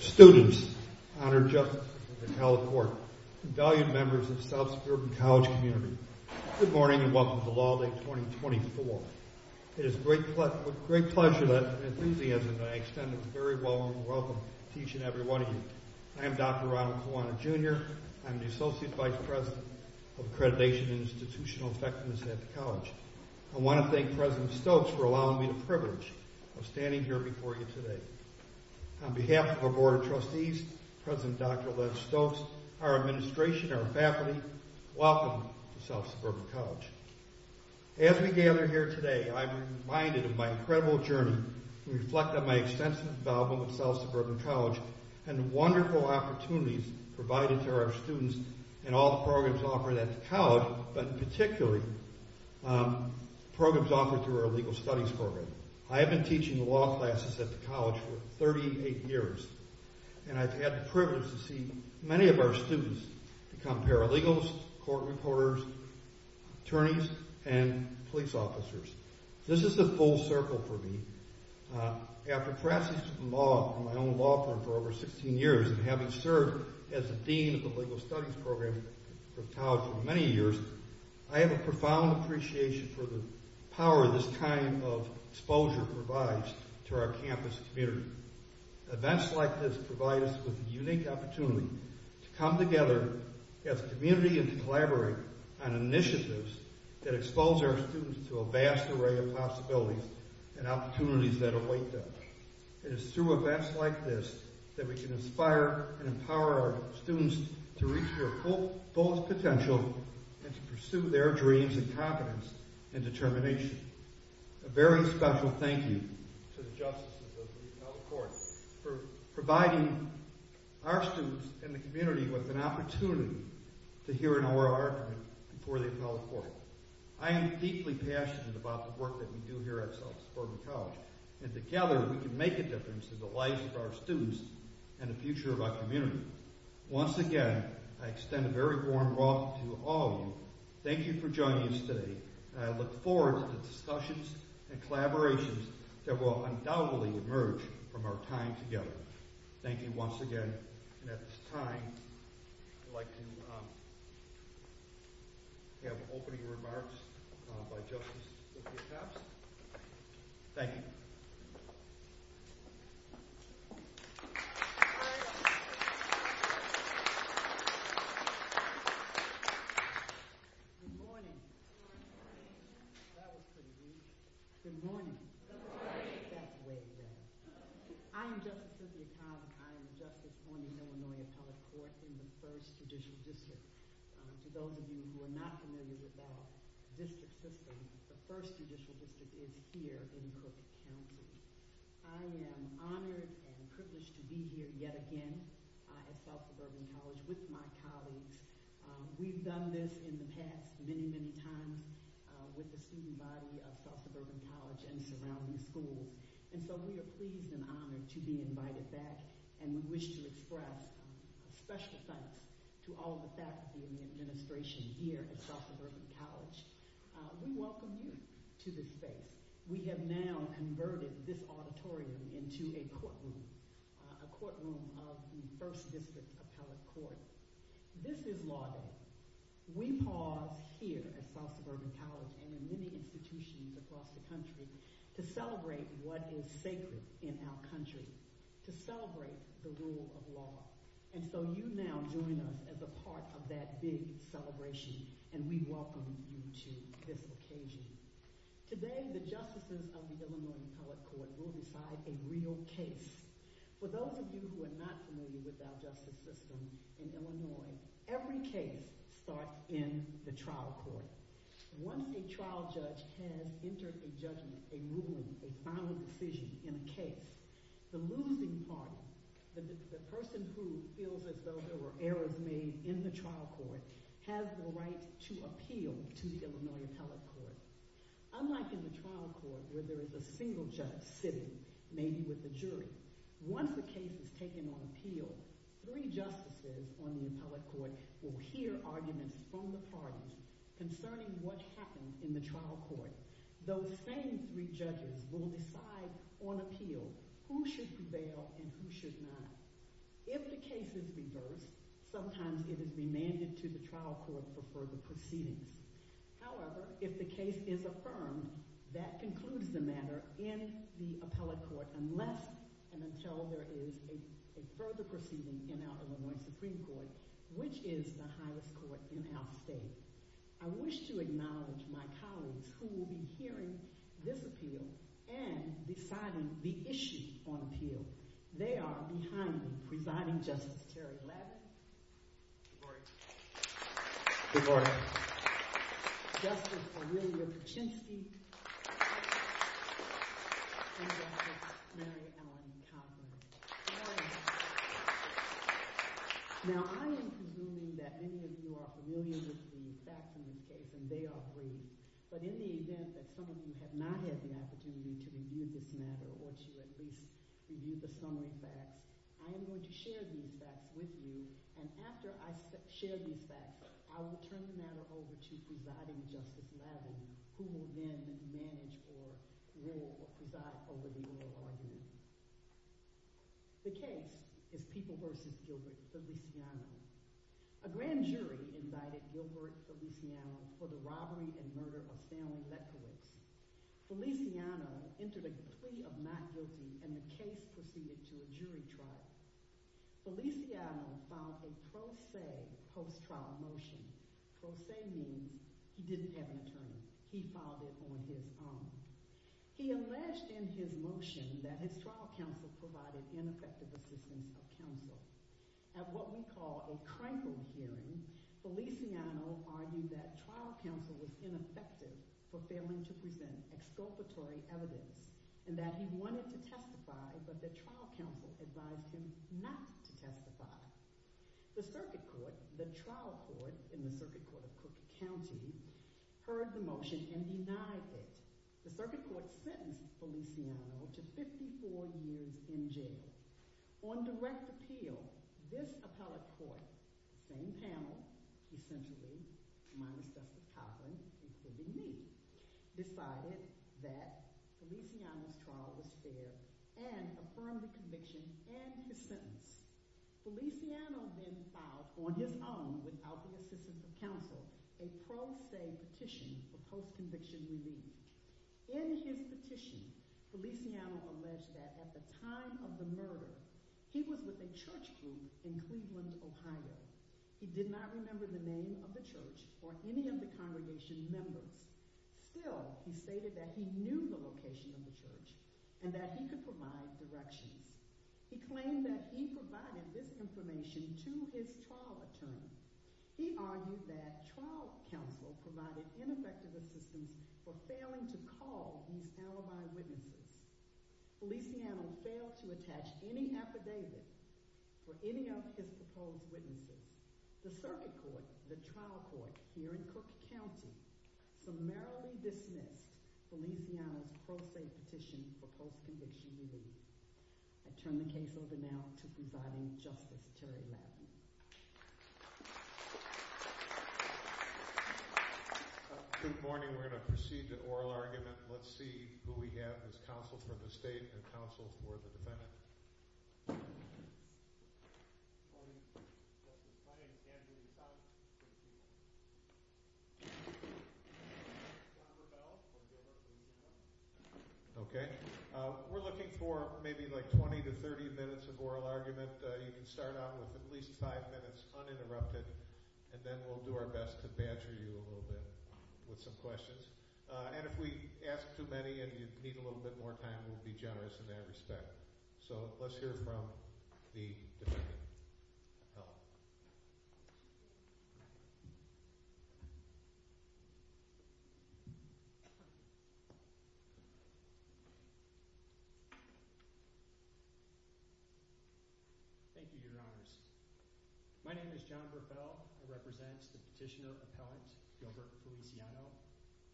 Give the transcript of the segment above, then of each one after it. Students, honored justices, and held court. Good morning and welcome to Law Day 2024. It is with great pleasure and enthusiasm that I extend a very warm welcome to each and every one of you. I am Dr. Ronald Kowane, Jr. I am the Associate Vice President of Accreditation and Institutional Effectiveness at the college. I want to thank President Stokes for allowing me the privilege of standing here before you today. On behalf of our Board of Trustees, President Dr. Lev Stokes, our administration, our faculty, welcome to South Suburban College. As we gather here today, I am reminded of my incredible journey and reflect on my extensive involvement with South Suburban College and the wonderful opportunities provided to our students and all the programs offered at the college, but particularly programs offered through our Legal Studies program. I have been teaching the law classes at the college for 38 years, and I have had the privilege to see many of our students become paralegals, court reporters, attorneys, and police officers. This is a full circle for me. After practicing law in my own law firm for over 16 years and having served as a dean of the Legal Studies program at the college for many years, I have a profound appreciation for the power this time of exposure provides to our campus community. Events like this provide us with a unique opportunity to come together as a community and collaborate on initiatives that expose our students to a vast array of possibilities and opportunities that await them. It is through events like this that we can inspire and empower our students to reach their fullest potential and to pursue their dreams and confidence and determination. A very special thank you to the justices of the appellate court for providing our students and the community with an opportunity to hear an oral argument before the appellate court. I am deeply passionate about the work that we do here at South Suburban College, and together we can make a difference in the lives of our students and the future of our community. Once again, I extend a very warm welcome to all of you. Thank you for joining us today, and I look forward to the discussions and collaborations that will undoubtedly emerge from our time together. Thank you once again, and at this time, I would like to have opening remarks by Justice Livia Tapps. Thank you. Good morning. That was pretty good. Good morning. I am Justice Livia Tapps. I am Justice on the Illinois Appellate Court in the First Judicial District. For those of you who are not familiar with our district system, the First Judicial District is here in Crook County. I am honored and privileged to be here yet again at South Suburban College with my colleagues. We've done this in the past many, many times with the student body of South Suburban College and surrounding schools, and so we are pleased and honored to be invited back and wish to express special thanks to all of the faculty and administration here at South Suburban College. We welcome you to this space. We have now converted this auditorium into a courtroom, a courtroom of the First District's Appellate Court. This is Law Day. We pause here at South Suburban College and in many institutions across the country to celebrate what is sacred in our country, to celebrate the rule of law, and so you now join us as a part of that big celebration, and we welcome you to this occasion. Today, the justices of the Illinois Appellate Court will decide a real case. For those of you who are not familiar with our justice system in Illinois, every case starts in the trial court. Once a trial judge has entered a judgment, a ruling, a final decision in a case, the losing party, the person who feels as though there were errors made in the trial court, has the right to appeal to the Illinois Appellate Court. Unlike in the trial court where there is a single judge sitting, maybe with a jury, once a case is taken on appeal, three justices on the appellate court will hear arguments from the parties concerning what happened in the trial court. Those same three judges will decide on appeal who should prevail and who should not. If the case is reversed, sometimes it is demanded to the trial court for further proceedings. However, if the case is affirmed, that concludes the matter in the appellate court, unless and until there is a further proceeding in our Illinois Supreme Court, which is the highest court in our state. I wish to acknowledge my colleagues who will be hearing this appeal and deciding the issues on appeal. They are behind me, Presiding Justice Terry Ladd. Good morning. Good morning. Justice Aurelia Kuczynski. And Justice Mary Ellen Connolly. Good morning. Now I am convinced that many of you are familiar with the facts in this case, and they are brief. But in the event that some of you have not had the opportunity to review this matter or to at least review the summary facts, I am going to share these facts with you. And after I share these facts, I will turn the matter over to Presiding Justice Ladd, who will then manage or rule or preside over the oral argument. The case is People v. Gilbert Feliciano. A grand jury invited Gilbert Feliciano for the robbery and murder of found lepers. Feliciano entered a plea of not guilty, and the case proceeded to a jury trial. Feliciano filed a pro se post-trial motion. Pro se means he didn't have an attorney. He filed it on his own. He alleged in his motion that his trial counsel provided ineffective assistance for counsel. At what we call a tranquil hearing, Feliciano argued that trial counsel was ineffective for failing to present exculpatory evidence and that he wanted to testify, but that trial counsel advised him not to testify. The circuit court, the trial court in the circuit court of Cook County, heard the motion and denied it. The circuit court sentenced Feliciano to 54 years in jail. On direct appeal, this appellate court, same panel, essentially, minus Dr. Coughlin, including me, decided that Feliciano's trial was fair and affirmed the conviction and the sentence. Feliciano then filed, on his own, without the assistance of counsel, a pro se petition for post-conviction relief. In his petition, Feliciano alleged that at the time of the murder, he was with a church group in Cleveland, Ohio. He did not remember the name of the church or any of the congregation members. Still, he stated that he knew the location of the church and that he could provide directions. He claimed that he provided this information to his trial attorney. He argued that trial counsel provided ineffective assistance for failing to call these alibi witnesses. Feliciano failed to attach any affidavits for any of his proposed witnesses. The circuit court, the trial court, here in Cook County, summarily dismissed Feliciano's pro se petition for post-conviction relief. I turn the case over now to Providing Justice, Terry Ladman. Good morning. We're going to proceed to oral argument. Let's see who we have as counsel for the state and counsel for the defendant. Okay. We're looking for maybe like 20 to 30 minutes of oral argument. You can start off with at least five minutes uninterrupted, and then we'll do our best to badger you a little bit with some questions. And if we ask too many and you need a little bit more time, we'll be generous in that respect. So let's hear from the defendant. Thank you, Your Honors. My name is John Burpell. I represent the petitioner appellant Gilbert Feliciano.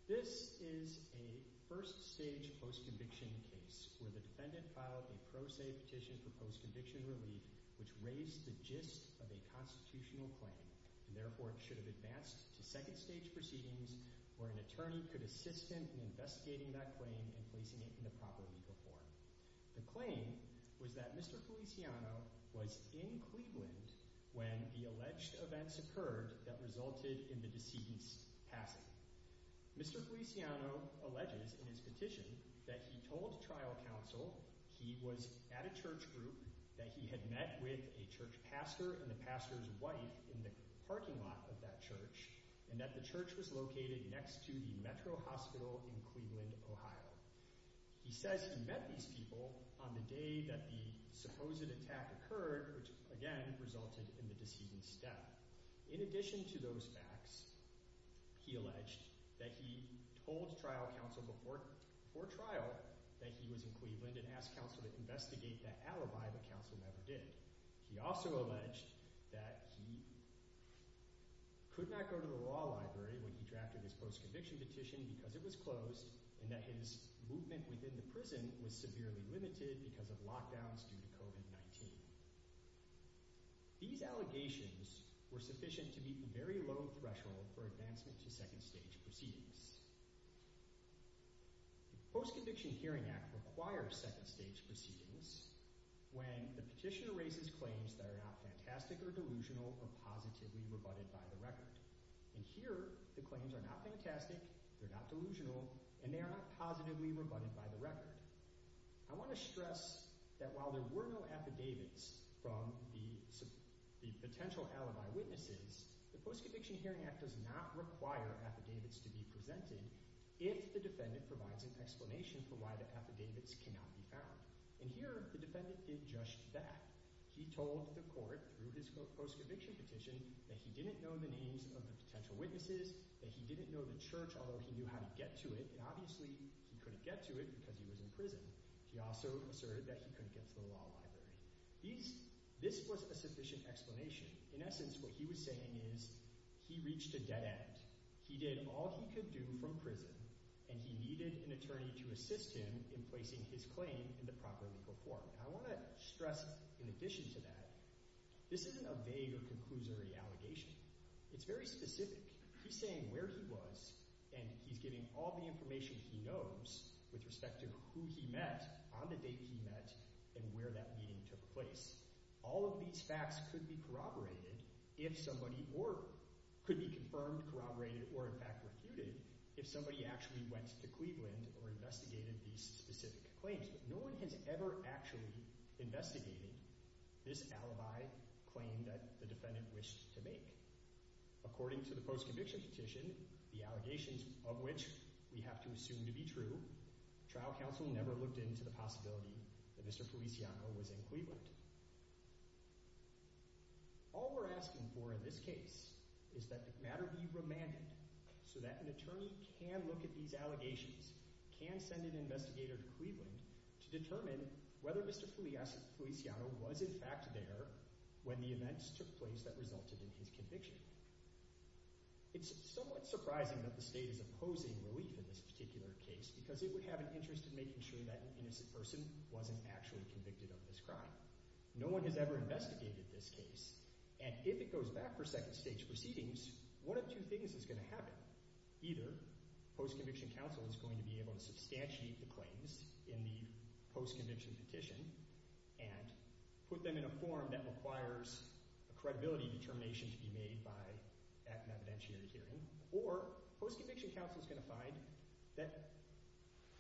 This is a first-stage post-conviction case where the defendant filed a pro se petition for post-conviction relief, which raised the gist of a constitutional claim and therefore should have advanced to second-stage proceedings where an attorney could assist him in investigating that claim and placing it in the proper legal form. The claim was that Mr. Feliciano was in Cleveland when the alleged events occurred that resulted in the deceased's passing. Mr. Feliciano alleges in his petition that he told trial counsel he was at a church group, that he had met with a church pastor and the pastor's wife in the parking lot of that church, and that the church was located next to the Metro Hospital in Cleveland, Ohio. He says he met these people on the day that the supposed attack occurred, which again resulted in the deceased's death. In addition to those facts, he alleged that he told trial counsel before trial that he was in Cleveland and asked counsel to investigate that alibi, but counsel never did. He also alleged that he could not go to the law library when he drafted his post-conviction petition because it was closed and that his movement within the prison was severely limited because of lockdowns due to COVID-19. These allegations were sufficient to meet the very low threshold for advancement to second-stage proceedings. The Post-Conviction Hearing Act requires second-stage proceedings when the petitioner raises claims that are not fantastic or delusional or positively rebutted by the record. And here, the claims are not fantastic, they're not delusional, and they are not positively rebutted by the record. I want to stress that while there were no affidavits from the potential alibi witnesses, the Post-Conviction Hearing Act does not require affidavits to be presented if the defendant provides an explanation for why the affidavits cannot be found. And here, the defendant did just that. He told the court through his post-conviction petition that he didn't know the names of the potential witnesses, that he didn't know the church, although he knew how to get to it, and obviously he couldn't get to it because he was in prison. He also asserted that he couldn't get to the law library. This was a sufficient explanation. In essence, what he was saying is he reached a dead end. He did all he could do from prison, and he needed an attorney to assist him in placing his claim in the proper legal court. I want to stress in addition to that, this isn't a vague or conclusory allegation. It's very specific. He's saying where he was, and he's giving all the information he knows with respect to who he met, on the date he met, and where that meeting took place. All of these facts could be corroborated if somebody – or could be confirmed, corroborated, or, in fact, refuted if somebody actually went to Cleveland or investigated these specific claims. But no one has ever actually investigated this alibi claim that the defendant wished to make. According to the post-conviction petition, the allegations of which we have to assume to be true, trial counsel never looked into the possibility that Mr. Feliciano was in Cleveland. All we're asking for in this case is that the matter be remanded so that an attorney can look at these allegations, can send an investigator to Cleveland to determine whether Mr. Feliciano was in fact there when the events took place that resulted in his conviction. It's somewhat surprising that the state is opposing relief in this particular case because it would have an interest in making sure that an innocent person wasn't actually convicted of this crime. No one has ever investigated this case, and if it goes back for second-stage proceedings, one of two things is going to happen. Either post-conviction counsel is going to be able to substantiate the claims in the post-conviction petition and put them in a form that requires a credibility determination to be made by an evidentiary hearing, or post-conviction counsel is going to find that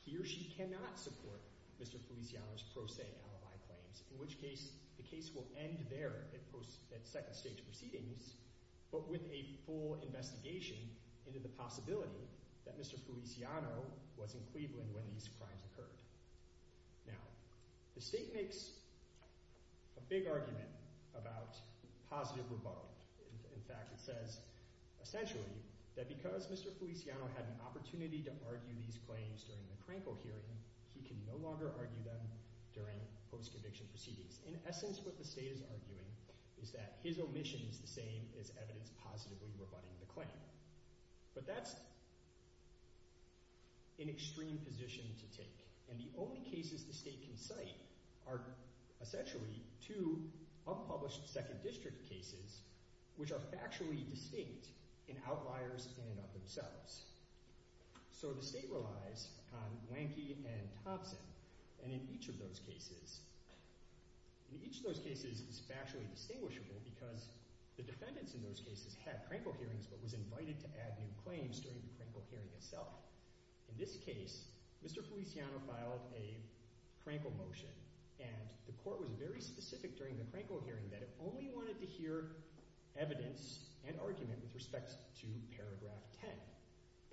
he or she cannot support Mr. Feliciano's pro se alibi claims, in which case the case will end there at second-stage proceedings, but with a full investigation into the possibility that Mr. Feliciano was in Cleveland when these crimes occurred. Now, the state makes a big argument about positive rebuttal. In fact, it says essentially that because Mr. Feliciano had an opportunity to argue these claims during the Krankle hearing, he can no longer argue them during post-conviction proceedings. In essence, what the state is arguing is that his omission is the same as evidence positively rebutting the claim, but that's an extreme position to take, and the only cases the state can cite are essentially two unpublished second district cases which are factually distinct in outliers and of themselves. So the state relies on Blankey and Thompson, and in each of those cases, each of those cases is factually distinguishable because the defendants in those cases had Krankle hearings but was invited to add new claims during the Krankle hearing itself. In this case, Mr. Feliciano filed a Krankle motion, and the court was very specific during the Krankle hearing that it only wanted to hear evidence and argument with respect to paragraph 10.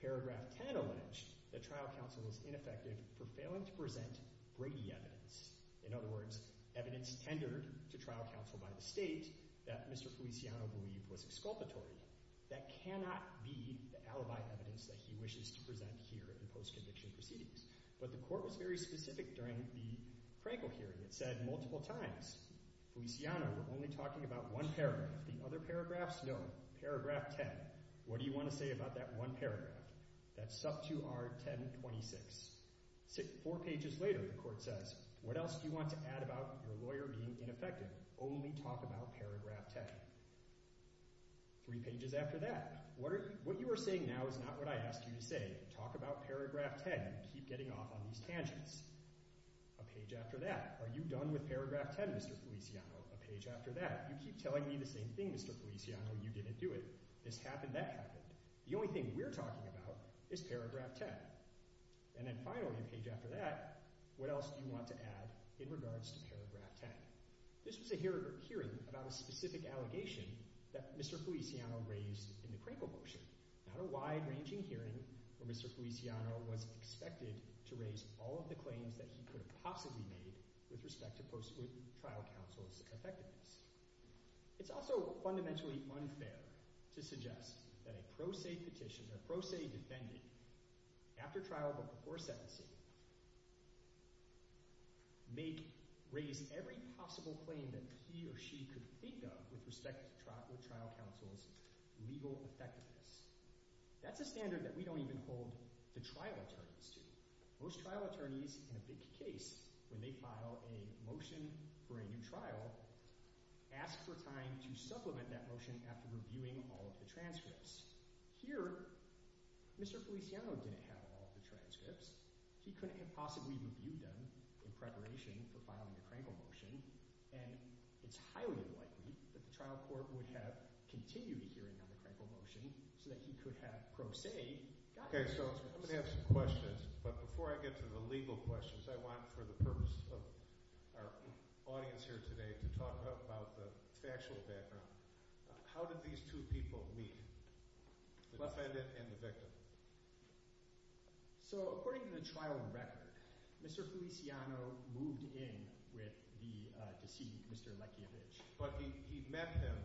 Paragraph 10 alleged that trial counsel was ineffective for failing to present Brady evidence. In other words, evidence tendered to trial counsel by the state that Mr. Feliciano believed was exculpatory. That cannot be the alibi evidence that he wishes to present here in post-conviction proceedings. But the court was very specific during the Krankle hearing. It said multiple times, Feliciano, we're only talking about one paragraph. The other paragraphs, no. Paragraph 10, what do you want to say about that one paragraph? That's sub 2R1026. Four pages later, the court says, what else do you want to add about your lawyer being ineffective? Only talk about paragraph 10. Three pages after that, what you are saying now is not what I asked you to say. Talk about paragraph 10. You keep getting off on these tangents. A page after that, are you done with paragraph 10, Mr. Feliciano? A page after that, you keep telling me the same thing, Mr. Feliciano. You didn't do it. This happened, that happened. The only thing we're talking about is paragraph 10. And then finally, a page after that, what else do you want to add in regards to paragraph 10? This was a hearing about a specific allegation that Mr. Feliciano raised in the Krankle portion. Not a wide-ranging hearing where Mr. Feliciano was expected to raise all of the claims that he could have possibly made with respect to trial counsel's effectiveness. It's also fundamentally unfair to suggest that a pro se petition, a pro se defendant, after trial but before sentencing, may raise every possible claim that he or she could think of with respect to trial counsel's legal effectiveness. That's a standard that we don't even hold the trial attorneys to. Most trial attorneys, in a big case, when they file a motion for a new trial, ask for time to supplement that motion after reviewing all of the transcripts. Here, Mr. Feliciano didn't have all of the transcripts. He couldn't have possibly reviewed them in preparation for filing the Krankle motion. And it's highly likely that the trial court would have continued the hearing on the Krankle motion so that he could have pro se gotten the transcripts. Okay, so I'm going to have some questions. But before I get to the legal questions, I want, for the purpose of our audience here today, to talk about the factual background. How did these two people meet, the defendant and the victim? So according to the trial record, Mr. Feliciano moved in with the deceased, Mr. McCandridge. But he met him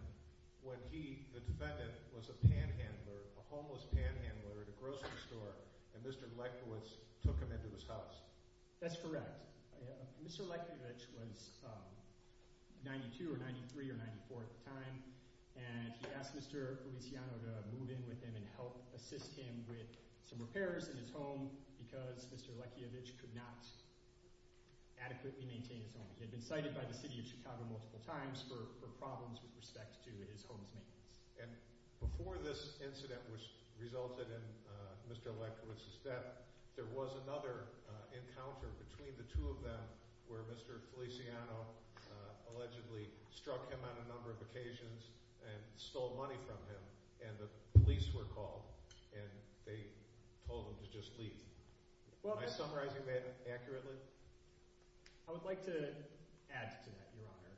when he, the defendant, was a panhandler, a homeless panhandler at a grocery store, and Mr. Leckiewicz took him into his house. That's correct. Mr. Leckiewicz was 92 or 93 or 94 at the time, and he asked Mr. Feliciano to move in with him and help assist him with some repairs in his home because Mr. Leckiewicz could not adequately maintain his home. He had been cited by the city of Chicago multiple times for problems with respect to his home's maintenance. And before this incident resulted in Mr. Leckiewicz's death, there was another encounter between the two of them where Mr. Feliciano allegedly struck him on a number of occasions and stole money from him, and the police were called, and they told him to just leave. Am I summarizing that accurately? I would like to add to that, Your Honor.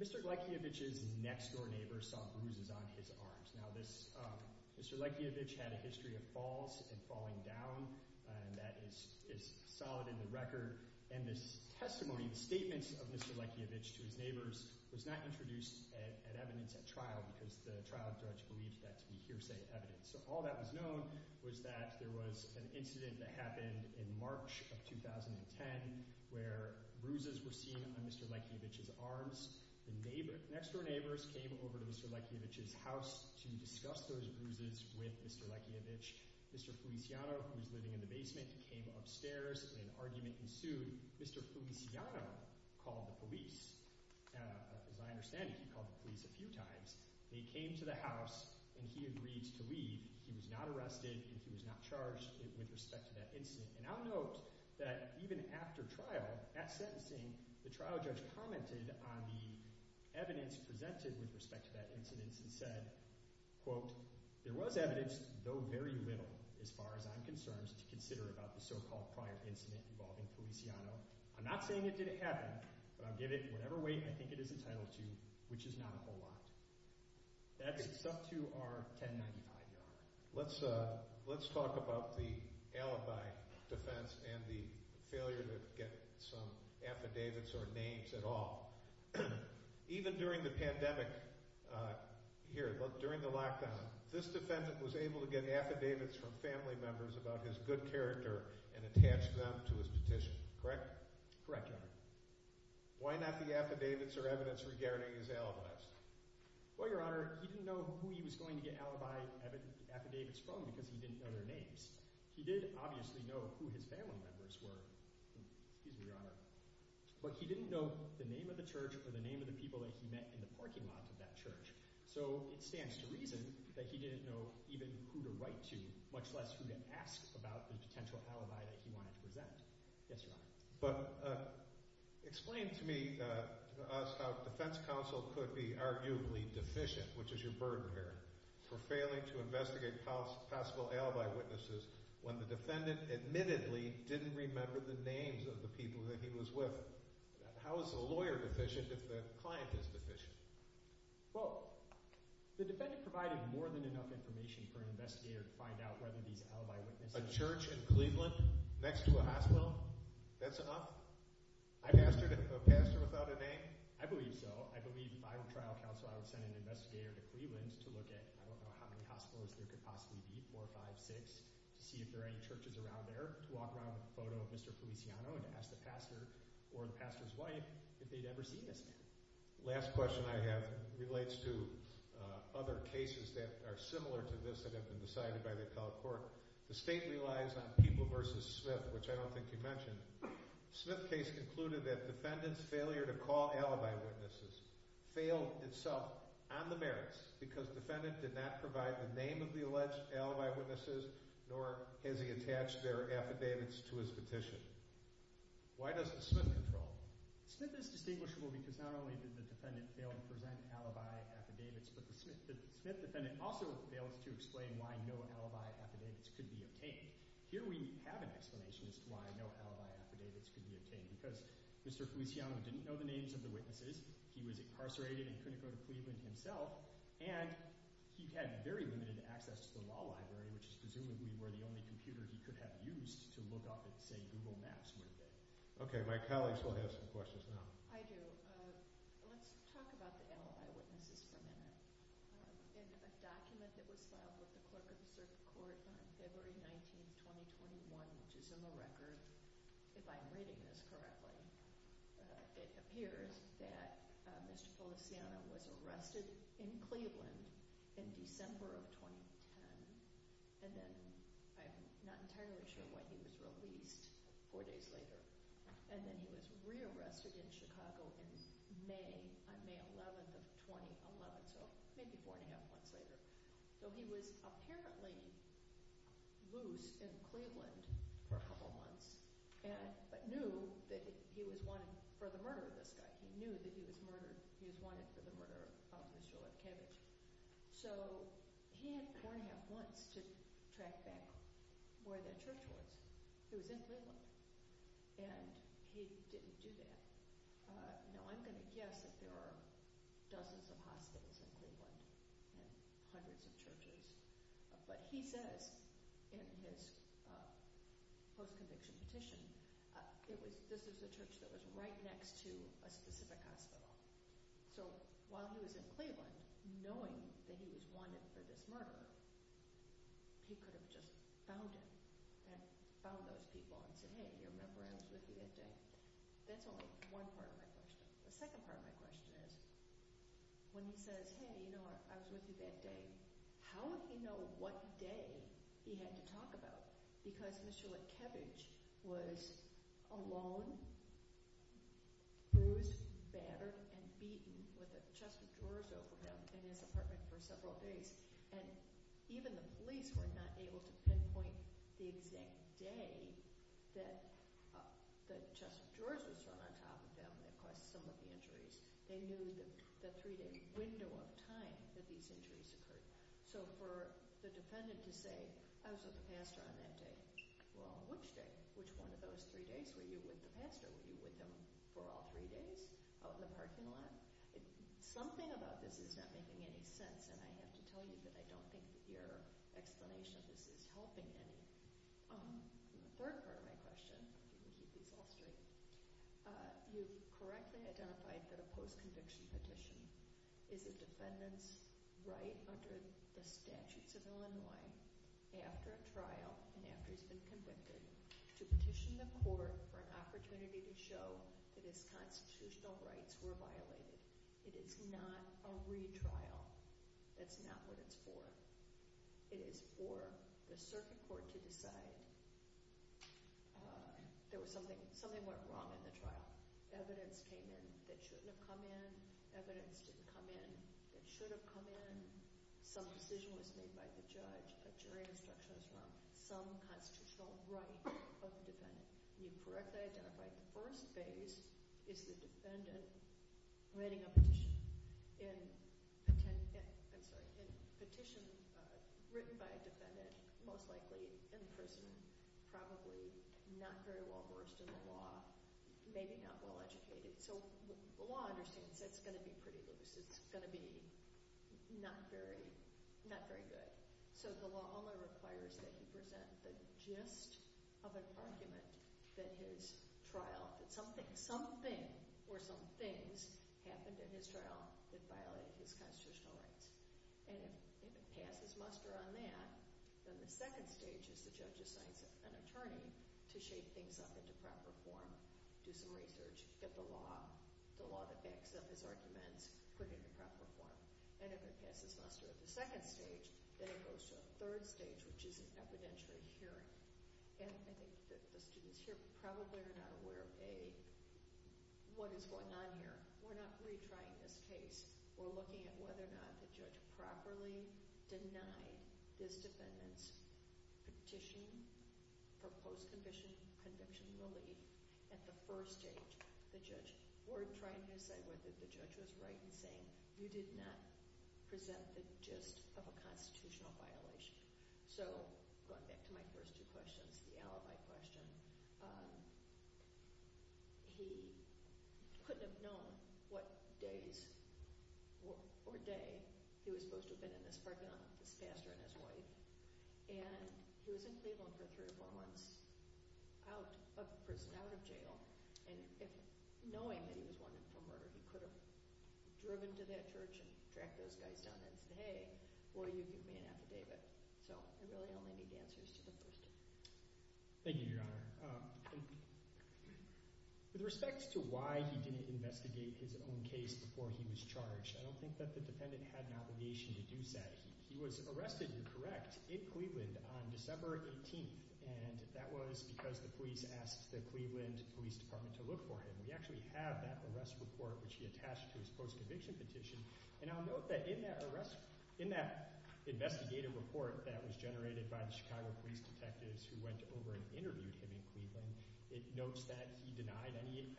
Mr. Leckiewicz's next-door neighbor saw bruises on his arms. Now, Mr. Leckiewicz had a history of falls and falling down, and that is solid in the record. And this testimony, the statements of Mr. Leckiewicz to his neighbors, was not introduced at evidence at trial because the trial judge believed that to be hearsay evidence. So all that was known was that there was an incident that happened in March of 2010 where bruises were seen on Mr. Leckiewicz's arms. The next-door neighbors came over to Mr. Leckiewicz's house to discuss those bruises with Mr. Leckiewicz. Mr. Feliciano, who was living in the basement, came upstairs, and an argument ensued. Mr. Feliciano called the police. As I understand it, he called the police a few times. They came to the house, and he agreed to leave. He was not arrested, and he was not charged with respect to that incident. And I'll note that even after trial, at sentencing, the trial judge commented on the evidence presented with respect to that incident and said, quote, There was evidence, though very little, as far as I'm concerned, to consider about the so-called prior incident involving Feliciano. I'm not saying it didn't happen, but I'll give it whatever weight I think it is entitled to, which is not a whole lot. That's up to our 1095 yard line. Let's talk about the alibi defense and the failure to get some affidavits or names at all. Even during the pandemic here, during the lockdown, this defendant was able to get affidavits from family members about his good character and attach them to his petition, correct? Correct, Your Honor. Why not the affidavits or evidence regarding his alibis? Well, Your Honor, he didn't know who he was going to get alibi affidavits from because he didn't know their names. He did obviously know who his family members were. Excuse me, Your Honor. But he didn't know the name of the church or the name of the people that he met in the parking lot of that church. So it stands to reason that he didn't know even who to write to, much less who to ask about the potential alibi that he wanted to present. Yes, Your Honor. But explain to me the odds how a defense counsel could be arguably deficient, which is your burden here, for failing to investigate possible alibi witnesses when the defendant admittedly didn't remember the names of the people that he was with. How is a lawyer deficient if the client is deficient? Well, the defendant provided more than enough information for an investigator to find out whether these alibi witnesses… Is there a church in Cleveland next to a hospital that's up? I've asked a pastor without a name. I believe so. I believe if I were trial counsel, I would send an investigator to Cleveland to look at I don't know how many hospitals there could possibly be, four, five, six, to see if there are any churches around there to walk around with a photo of Mr. Feliciano and to ask the pastor or the pastor's wife if they'd ever seen this man. The last question I have relates to other cases that are similar to this that have been decided by the appellate court. The state relies on People v. Smith, which I don't think you mentioned. The Smith case concluded that the defendant's failure to call alibi witnesses failed itself on the merits because the defendant did not provide the name of the alleged alibi witnesses nor has he attached their affidavits to his petition. Why doesn't Smith control? Smith is distinguishable because not only did the defendant fail to present alibi affidavits, but the Smith defendant also failed to explain why no alibi affidavits could be obtained. Here we have an explanation as to why no alibi affidavits could be obtained because Mr. Feliciano didn't know the names of the witnesses, he was incarcerated in Kunicoda, Cleveland himself, and he had very limited access to the law library, which is presumably where the only computer he could have used to look up at say Google Maps would have been. Okay, my colleagues will have some questions now. Hi there. Let's talk about the alibi witnesses for a minute. In a document that was filed with the clerk of the circuit court on February 19, 2021, which is in the record, if I'm reading this correctly, it appears that Mr. Feliciano was arrested in Cleveland in December of 2010, and then I'm not entirely sure what he was released four days later, and then he was rearrested in Chicago on May 11 of 2011, so maybe four and a half months later. So he was apparently loose in Cleveland for a couple months, but knew that he was wanted for the murder of this guy. He knew that he was wanted for the murder of Mr. Lefkowitz. So he had four and a half months to track back where the church was. He was in Cleveland, and he didn't do that. Now, I'm going to guess that there are dozens of hospitals in Cleveland and hundreds of churches, but he says in his post-conviction petition, this is the church that was right next to a specific hospital. So while he was in Cleveland, knowing that he was wanted for this murder, he could have just found him and found those people and said, hey, remember, I was with you that day. That's only one part of my question. The second part of my question is when he says, hey, you know what, I was with you that day, how would he know what day he had to talk about it? Because Mr. Lefkowitz was alone, bruised, battered, and beaten with a chest of drawers over him in this apartment for several days, and even the police were not able to pinpoint the exact day that the chest of drawers was thrown on top of him that caused some of the injuries. They knew the three-day window of time that these injuries occurred. So for the defendant to say, I was with the pastor on that day, or on which day, which one of those three days were you with the pastor? Were you with him for all three days out in the parking lot? Something about this is not making any sense, and I have to tell you that I don't think your explanation of this is helping me. The third part of my question, and I think it's all straight, you correctly identified that a post-conviction petition is a defendant's right under the statutes of Illinois after a trial and after he's been convicted to petition the court for an opportunity to show that his constitutional rights were violated. It is not a retrial. That's not what it's for. It is for the circuit court to decide that something went wrong in the trial. Evidence came in that shouldn't have come in. Evidence didn't come in that should have come in. Some decision was made by the judge. A jury instruction was found. Some constitutional right of the defendant. You correctly identified the first phase is the defendant writing a petition. In a petition written by a defendant, most likely in prison, probably not very well-versed in the law, maybe not well-educated. So the law understands it's going to be pretty loose. It's going to be not very good. So the law only requires that you present the gist of an argument that his trial, that something or some things happened in his trial that violated his constitutional rights. And if it passes muster on that, then the second stage is the judge assigns an attorney to shape things up into proper form, do some research, get the law to fix up his arguments, put it into proper form. And if it passes muster at the second stage, then it goes to a third stage, which is an evidentiary hearing. And the students here probably are not aware of what is going on here. We're not retrying this case. We're looking at whether or not the judge properly denied this defendant's petition, proposed condition, conventionability at the first stage. The judge weren't trying to say whether the judge was right in saying, you did not present the gist of a constitutional violation. So going back to my first two questions, the alibi question, he couldn't have known what days or day he was supposed to have been in this parking lot with his pastor and his wife. And he was in Cleveland for three or four months out of prison, out of jail. And knowing that he was one of the four murderers, he could have driven to that church and tracked those guys down and said, hey, or you could be an affidavit. So I really don't know the answers to the first two. Thank you, Your Honor. With respect to why he didn't investigate his own case before he was charged, I don't think that the defendant had an obligation to do that. He was arrested and correct in Cleveland on December 18th. And that was because the police asked the Cleveland Police Department to look for him. We actually have that arrest report which he attached to his post-conviction petition. And I'll note that in that investigative report that was generated by the Chicago police detectives who went over and interviewed him in Cleveland, it notes that he denied any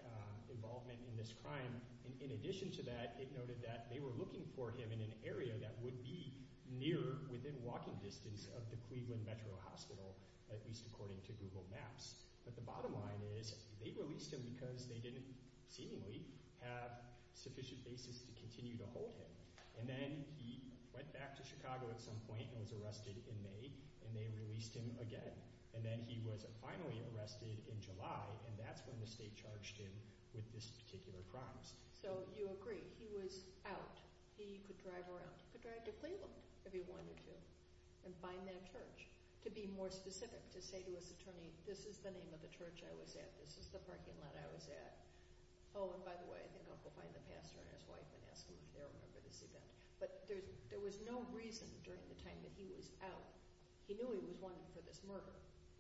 involvement in this crime. In addition to that, it noted that they were looking for him in an area that would be near, within walking distance of the Cleveland Metro Hospital, at least according to Google Maps. But the bottom line is they released him because they didn't seemingly have sufficient basis to continue to hold him. And then he went back to Chicago at some point and was arrested in May, and they released him again. And then he was finally arrested in July, and that's when the state charged him with this particular crime. So you agree. He was out. He could drive around. He could drive to Cleveland if he wanted to and find that church. To be more specific, to say to his attorney, this is the name of the church I was at. This is the parking lot I was at. Oh, and by the way, I think I'll go find the pastor and his wife and ask him if they remember this event. But there was no reason during the time that he was out. He knew he was wanted for this murder.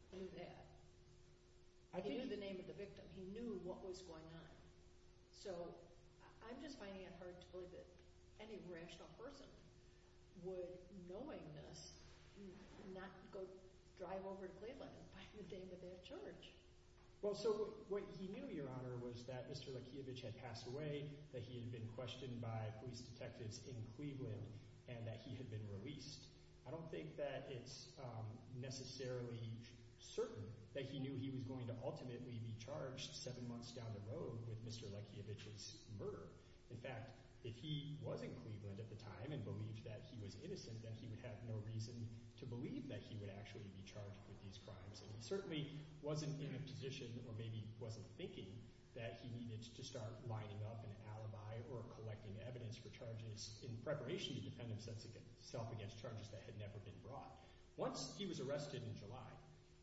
He knew that. He knew the name of the victim. He knew what was going on. So I'm just finding it hard to believe that any rational person would, knowing this, not go drive over to Cleveland and find the name of their church. Well, so what he knew, Your Honor, was that Mr. Lakievich had passed away, that he had been questioned by police detectives in Cleveland, and that he had been released. I don't think that it's necessarily certain that he knew he was going to ultimately be charged seven months down the road with Mr. Lakievich's murder. In fact, if he was in Cleveland at the time and believed that he was innocent, then he would have no reason to believe that he would actually be charged with these crimes. He certainly wasn't in a position or maybe wasn't thinking that he needed to start lining up an alibi or collecting evidence for charges in preparation to defend himself against charges that had never been brought. Once he was arrested in July,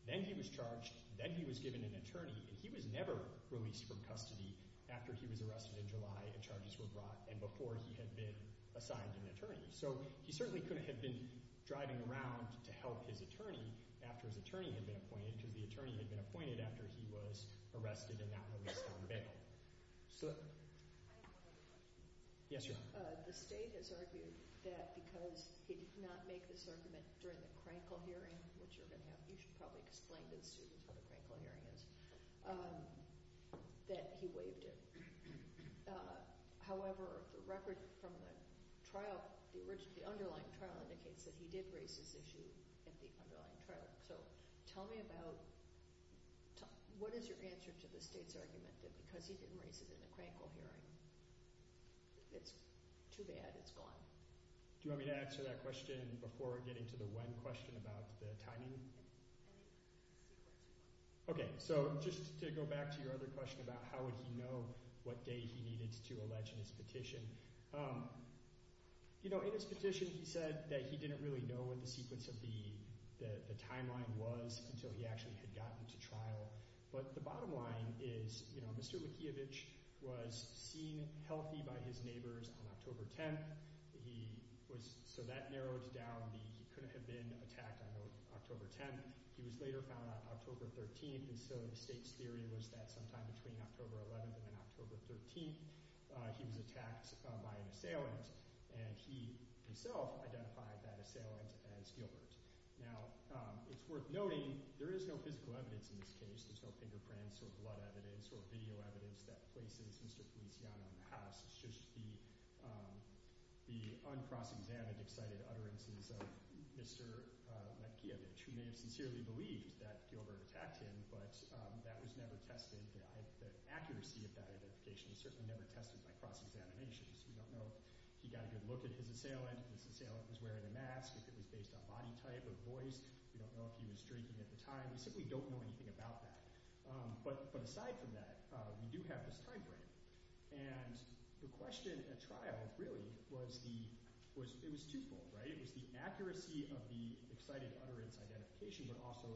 then he was charged, then he was given an attorney, and he was never released from custody after he was arrested in July and charges were brought and before he had been assigned an attorney. So he certainly couldn't have been driving around to help his attorney after his attorney had been appointed to the attorney had been appointed after he was arrested and not released on bail. The state has argued that because he did not make this argument during the Krankel hearing, which you're going to have to explain to the students what the Krankel hearing is, that he waived it. However, the record from the trial, the underlying trial indicates that he did raise this issue at the underlying trial. So tell me about, what is your answer to the state's argument that because he didn't raise it in the Krankel hearing, it's too bad, it's gone? Do you want me to answer that question before getting to the one question about the timing? Okay, so just to go back to your other question about how would he know what day he needed to allege his petition. You know, in his petition he said that he didn't really know what the sequence of the timeline was until he actually had gotten to trial. But the bottom line is, you know, Mr. Mikheyevich was seen healthy by his neighbors on October 10th. He was, so that narrows down the, he couldn't have been attacked on October 10th. He was later found on October 13th, and so the state's theory was that sometime between October 11th and October 13th, he was attacked by an assailant, and he himself identified that assailant as Gilbert. Now, it's worth noting, there is no physical evidence in this case. There's no fingerprints or blood evidence or video evidence that places Mr. Piziano in the house. It's just the uncross-examined, excited utterances of Mr. Mikheyevich, who may have sincerely believed that Gilbert attacked him, but that was never tested. The accuracy of that identification is certainly never tested by cross-examination. We don't know if he got a good look at his assailant, if his assailant was wearing a mask, if it was based on body type or voice. We don't know if he was drinking at the time. We simply don't know anything about that. But aside from that, we do have this time frame, and the question at trial really was the, it was twofold, right? It was the accuracy of the excited utterance identification, but also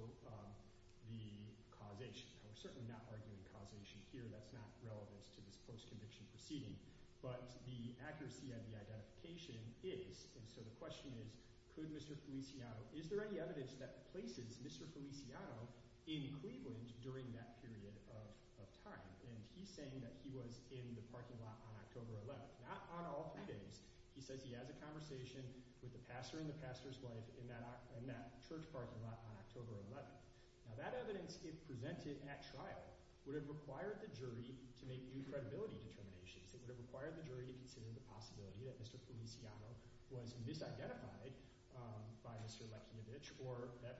the causation. I'm certainly not arguing causation here. That's not relevant to this post-conviction proceeding, but the accuracy of the identification is. And so the question is, could Mr. Feliciano – is there any evidence that places Mr. Feliciano in Cleveland during that period of time? And he's saying that he was in the parking lot on October 11th. Not on all three days. He says he has a conversation with the pastor and the pastor's wife in that church parking lot on October 11th. Now that evidence, if presented at trial, would have required the jury to make new credibility determinations. It would have required the jury to consider the possibility that Mr. Feliciano was misidentified by Mr. Lekiovich or that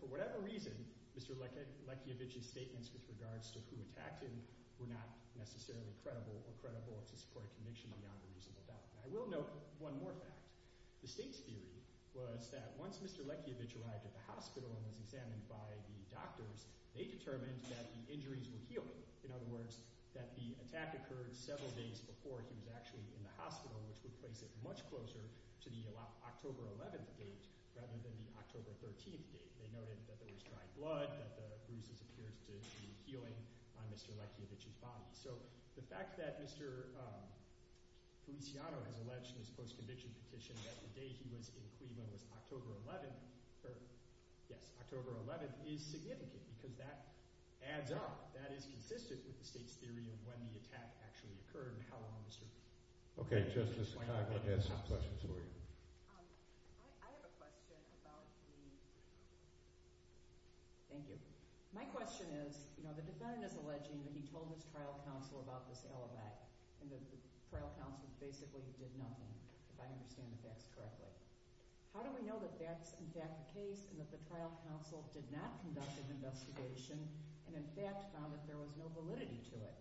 for whatever reason, Mr. Lekiovich's statements with regards to who attacked him were not necessarily credible or credible to support a conviction beyond the reasonable doubt. I will note one more fact. The state's theory was that once Mr. Lekiovich arrived at the hospital and was examined by the doctors, they determined that the injuries were healed. In other words, that the attack occurred several days before he was actually in the hospital, which would place it much closer to the October 11th date rather than the October 13th date. They noted that there was dry blood, that the bruises appeared to be healing on Mr. Lekiovich's body. So the fact that Mr. Feliciano has alleged in his post-conviction petition that the day he was in Cleveland was October 11th, yes, October 11th, is significant because that adds up. That is consistent with the state's theory of when the attack actually occurred and how long Mr. Lekiovich was in the hospital. Okay, Justice Conklin has some questions for you. I have a question about the – thank you. My question is, you know, the defendant is alleging that he told his trial counsel about this alibi and that the trial counsel basically did nothing, if I understand the facts correctly. How do we know that that's in fact the case and that the trial counsel did not conduct an investigation and, in fact, found that there was no validity to it?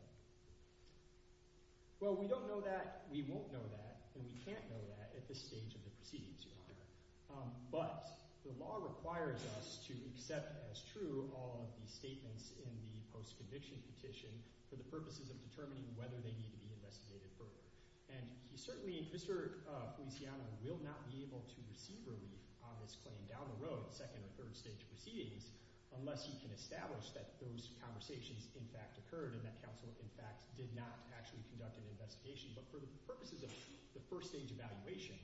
Well, we don't know that, we won't know that, and we can't know that at this stage of the proceedings, Your Honor. But the law requires us to accept as true all of the statements in the post-conviction petition for the purposes of determining whether they need to be investigated further. And certainly Mr. Feliciano will not be able to receive relief on this claim down the road, second or third stage proceedings, unless he can establish that those conversations, in fact, occurred and that counsel, in fact, did not actually conduct an investigation. But for the purposes of the first stage evaluation,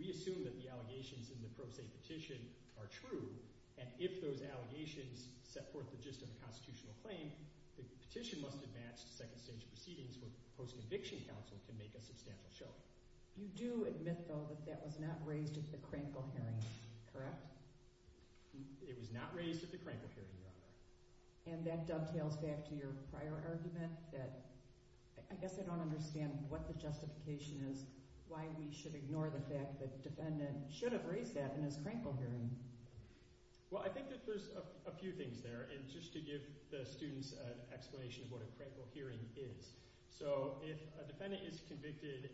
we assume that the allegations in the Pro Se Petition are true and if those allegations set forth the gist of the constitutional claim, the petition must advance to second stage proceedings where the post-conviction counsel can make a substantial show of it. You do admit, though, that that was not raised at the Crankle Hearing, correct? It was not raised at the Crankle Hearing, Your Honor. And that dovetails back to your prior argument that I guess I don't understand what the justification is, why we should ignore the fact that the defendant should have raised that in his Crankle Hearing. Well, I think that there's a few things there, and just to give the students an explanation of what a Crankle Hearing is. So if a defendant is convicted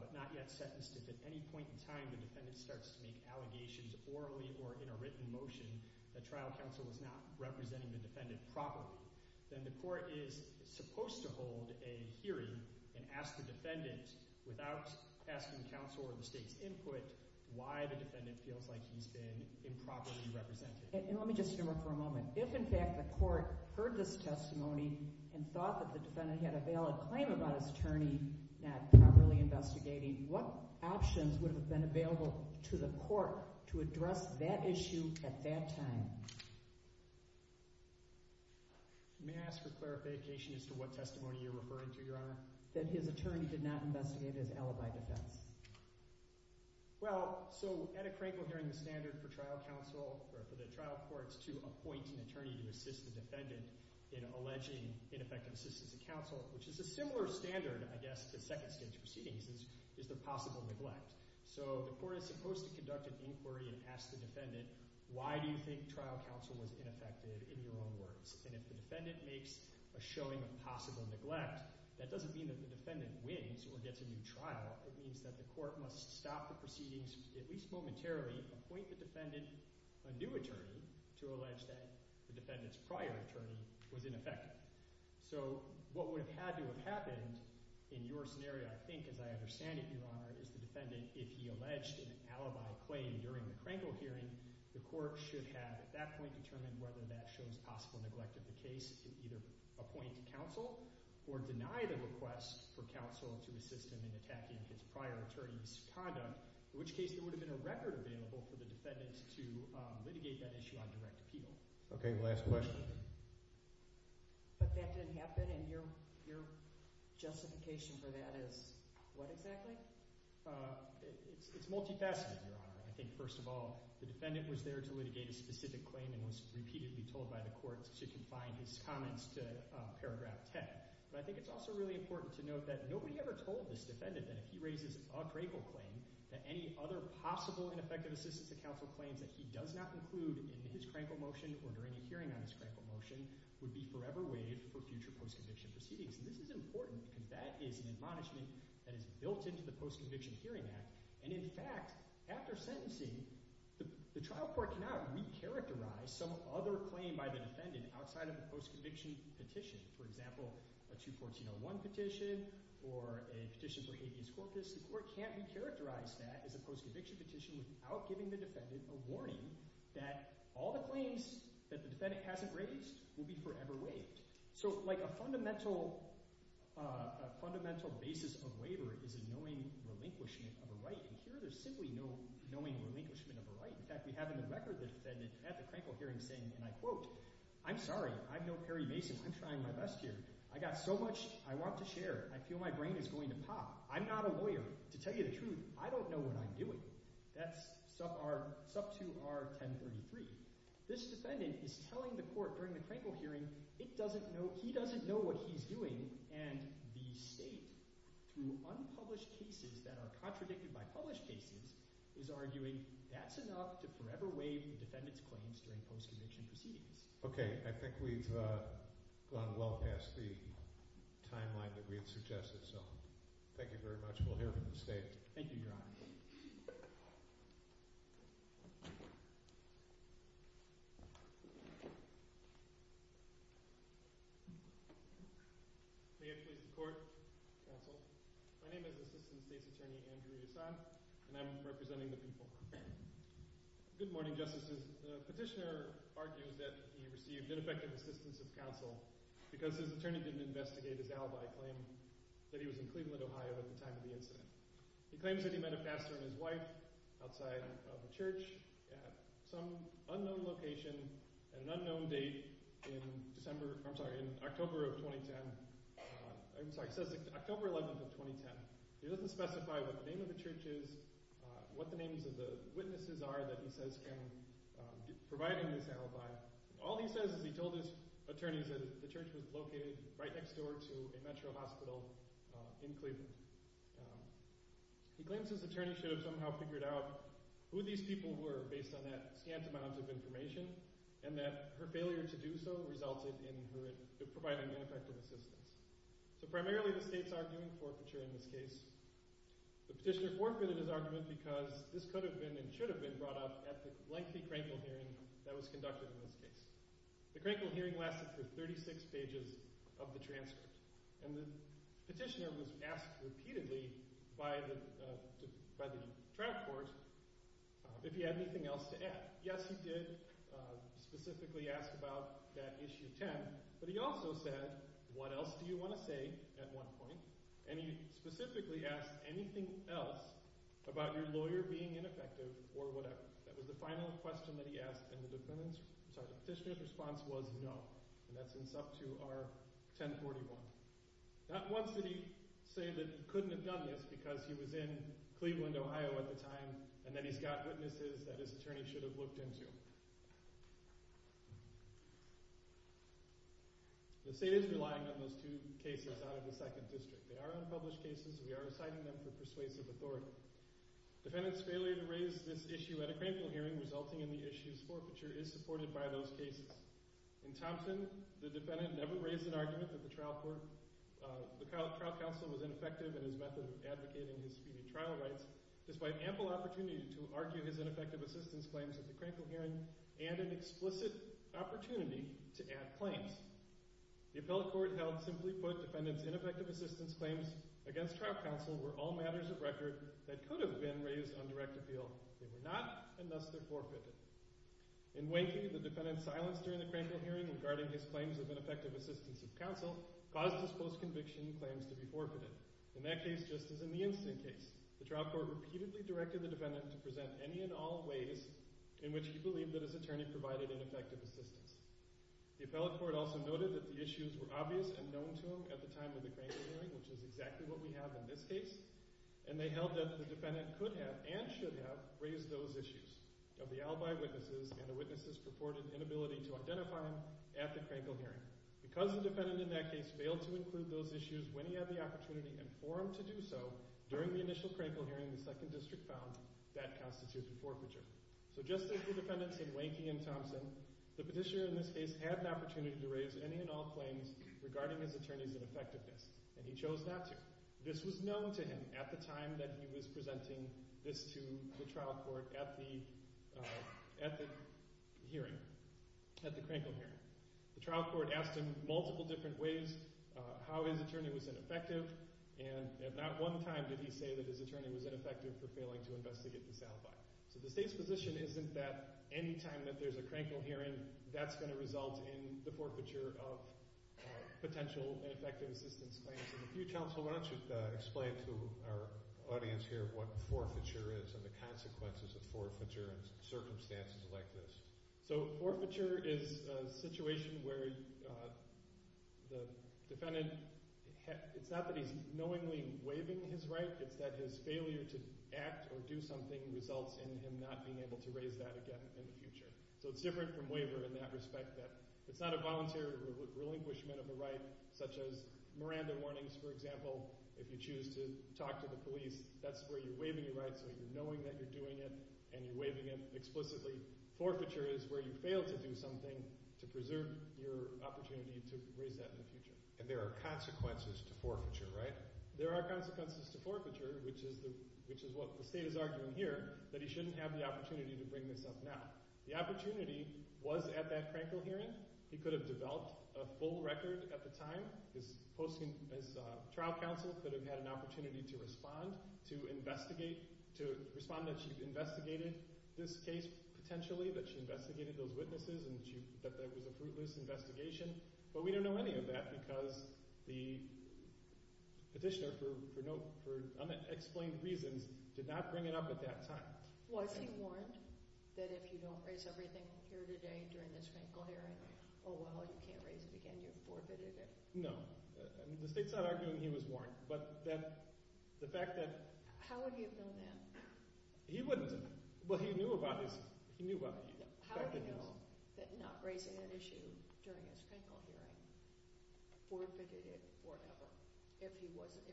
but not yet sentenced, if at any point in time the defendant starts to make allegations orally or in a written motion that trial counsel is not representing the defendant properly, then the court is supposed to hold a hearing and ask the defendant, without asking counsel or the state's input, why the defendant feels like he's been improperly represented. And let me just interrupt for a moment. If, in fact, the court heard this testimony and thought that the defendant had a valid claim about his attorney not properly investigating, what options would have been available to the court to address that issue at that time? May I ask for clarification as to what testimony you're referring to, Your Honor? That his attorney did not investigate his alibi defense. Well, so at a Crankle Hearing, the standard for trial counsel or for the trial courts to appoint an attorney to assist the defendant in alleging ineffective assistance to counsel, which is a similar standard, I guess, to second-stage proceedings, is the possible neglect. So the court is supposed to conduct an inquiry and ask the defendant, why do you think trial counsel was ineffective in your own words? And if the defendant makes a showing of possible neglect, that doesn't mean that the defendant wins or gets a new trial. It means that the court must stop the proceedings, at least momentarily, appoint the defendant a new attorney to allege that the defendant's prior attorney was ineffective. So what would have had to have happened in your scenario, I think, as I understand it, Your Honor, is the defendant, if he alleged an alibi claim during the Crankle Hearing, the court should have at that point determined whether that shows possible neglect of the case to either appoint counsel or deny the request for counsel to assist him in attacking his prior attorney's conduct, in which case there would have been a record available for the defendant to litigate that issue on direct appeal. Okay, last question. But that didn't happen, and your justification for that is what exactly? It's multifaceted, Your Honor. I think, first of all, the defendant was there to litigate a specific claim and was repeatedly told by the court to confine his comments to paragraph 10. But I think it's also really important to note that nobody ever told this defendant that if he raises a Crankle claim, that any other possible ineffective assistance to counsel claims that he does not include in his Crankle motion or during a hearing on his Crankle motion would be forever waived for future post-conviction proceedings. This is important, and that is an admonishment that is built into the Post-Conviction Hearing Act. And in fact, after sentencing, the trial court cannot re-characterize some other claim by the defendant outside of the post-conviction petition. For example, a 2014-01 petition or a petition for habeas corpus, the court can't re-characterize that as a post-conviction petition without giving the defendant a warning that all the claims that the defendant hasn't raised will be forever waived. So a fundamental basis of waiver is a knowing relinquishment of a right, and here there's simply no knowing relinquishment of a right. In fact, we have in the record the defendant at the Crankle hearing saying, and I quote, I'm sorry. I'm no Perry Mason. I'm trying my best here. I got so much I want to share. I feel my brain is going to pop. I'm not a lawyer. To tell you the truth, I don't know what I'm doing. That's sub to our 1033. This defendant is telling the court during the Crankle hearing he doesn't know what he's doing, and the state, through unpublished cases that are contradicted by published cases, is arguing that's enough to forever waive the defendant's claims during post-conviction proceedings. Okay. I think we've gone well past the timeline that we had suggested, so thank you very much. We'll hear from the state. Thank you, Your Honor. May I please report, counsel? My name is Assistant Case Attorney Andrew Hassan, and I'm representing the people. Good morning, Justices. The petitioner argued that he received ineffective assistance of counsel because his attorney didn't investigate his alibi claim that he was in Cleveland, Ohio at the time of the incident. He claims that he met a pastor and his wife outside of the church at some unknown location at an unknown date in October of 2010. I'm sorry, he says October 11th of 2010. He doesn't specify what the name of the church is, what the names of the witnesses are that he says can provide him this alibi. All he says is he told his attorneys that the church was located right next door to a metro hospital in Cleveland. He claims his attorney should have somehow figured out who these people were based on that scant amount of information, and that her failure to do so resulted in her providing ineffective assistance. So primarily the state's arguing forfeiture in this case. The petitioner forfeited his argument because this could have been and should have been brought up at the lengthy Krenkel hearing that was conducted in this case. The Krenkel hearing lasted for 36 pages of the transcript, and the petitioner was asked repeatedly by the trial court if he had anything else to add. Yes, he did specifically ask about that issue 10, but he also said what else do you want to say at one point, and he specifically asked anything else about your lawyer being ineffective or whatever. That was the final question that he asked, and the petitioner's response was no. And that's in sub 2 R 1041. Not once did he say that he couldn't have done this because he was in Cleveland, Ohio at the time, and that he's got witnesses that his attorney should have looked into. The state is relying on those two cases out of the second district. They are unpublished cases, and we are citing them for persuasive authority. Defendant's failure to raise this issue at a Krenkel hearing resulting in the issue's forfeiture is supported by those cases. In Thompson, the defendant never raised an argument at the trial court. The trial counsel was ineffective in his method of advocating disputed trial rights. Despite ample opportunity to argue his ineffective assistance claims at the Krenkel hearing and an explicit opportunity to add claims, the appellate court held simply put defendant's ineffective assistance claims against trial counsel were all matters of record that could have been raised on direct appeal. They were not, and thus they're forfeited. In Wakey, the defendant's silence during the Krenkel hearing regarding his claims of ineffective assistance of counsel caused his post-conviction claims to be forfeited. In that case, just as in the instant case, the trial court repeatedly directed the defendant to present any and all ways in which he believed that his attorney provided ineffective assistance. The appellate court also noted that the issues were obvious and known to him at the time of the Krenkel hearing, which is exactly what we have in this case, and they held that the defendant could have and should have raised those issues of the alibi witnesses and the witnesses' purported inability to identify him at the Krenkel hearing. Because the defendant in that case failed to include those issues when he had the opportunity and for him to do so during the initial Krenkel hearing in the second district found, that constitutes a forfeiture. So just as the defendants in Wakey and Thompson, the petitioner in this case had an opportunity to raise any and all claims regarding his attorney's ineffectiveness, and he chose not to. This was known to him at the time that he was presenting this to the trial court at the hearing, at the Krenkel hearing. The trial court asked him multiple different ways how his attorney was ineffective, and at not one time did he say that his attorney was ineffective for failing to investigate the sound bite. So the state's position isn't that any time that there's a Krenkel hearing, that's going to result in the forfeiture of potential ineffective assistance claims. And if you'd counsel, why don't you explain to our audience here what forfeiture is and the consequences of forfeiture in circumstances like this. So forfeiture is a situation where the defendant, it's not that he's knowingly waiving his right, it's that his failure to act or do something results in him not being able to raise that again in the future. So it's different from waiver in that respect, that it's not a volunteer relinquishment of the right, such as Miranda Warnings, for example, if you choose to talk to the police, that's where you're waiving your right, so you're knowing that you're doing it, and you're waiving it explicitly. Forfeiture is where you fail to do something to preserve your opportunity to raise that in the future. And there are consequences to forfeiture, right? There are consequences to forfeiture, which is what the state is arguing here, that he shouldn't have the opportunity to bring this up now. The opportunity was at that Krenkel hearing. He could have developed a full record at the time. His trial counsel could have had an opportunity to respond, to investigate, to respond that she investigated this case potentially, that she investigated those witnesses, and that there was a fruitless investigation. But we don't know any of that because the petitioner, for unexplained reasons, did not bring it up at that time. Was he warned that if you don't raise everything here today during this Krenkel hearing, oh, well, you can't raise it again, you're forfeited it? No. The state's not arguing he was warned. How would he have known that? He wouldn't. Well, he knew about it. How would he know that not raising an issue during this Krenkel hearing forfeited it forever if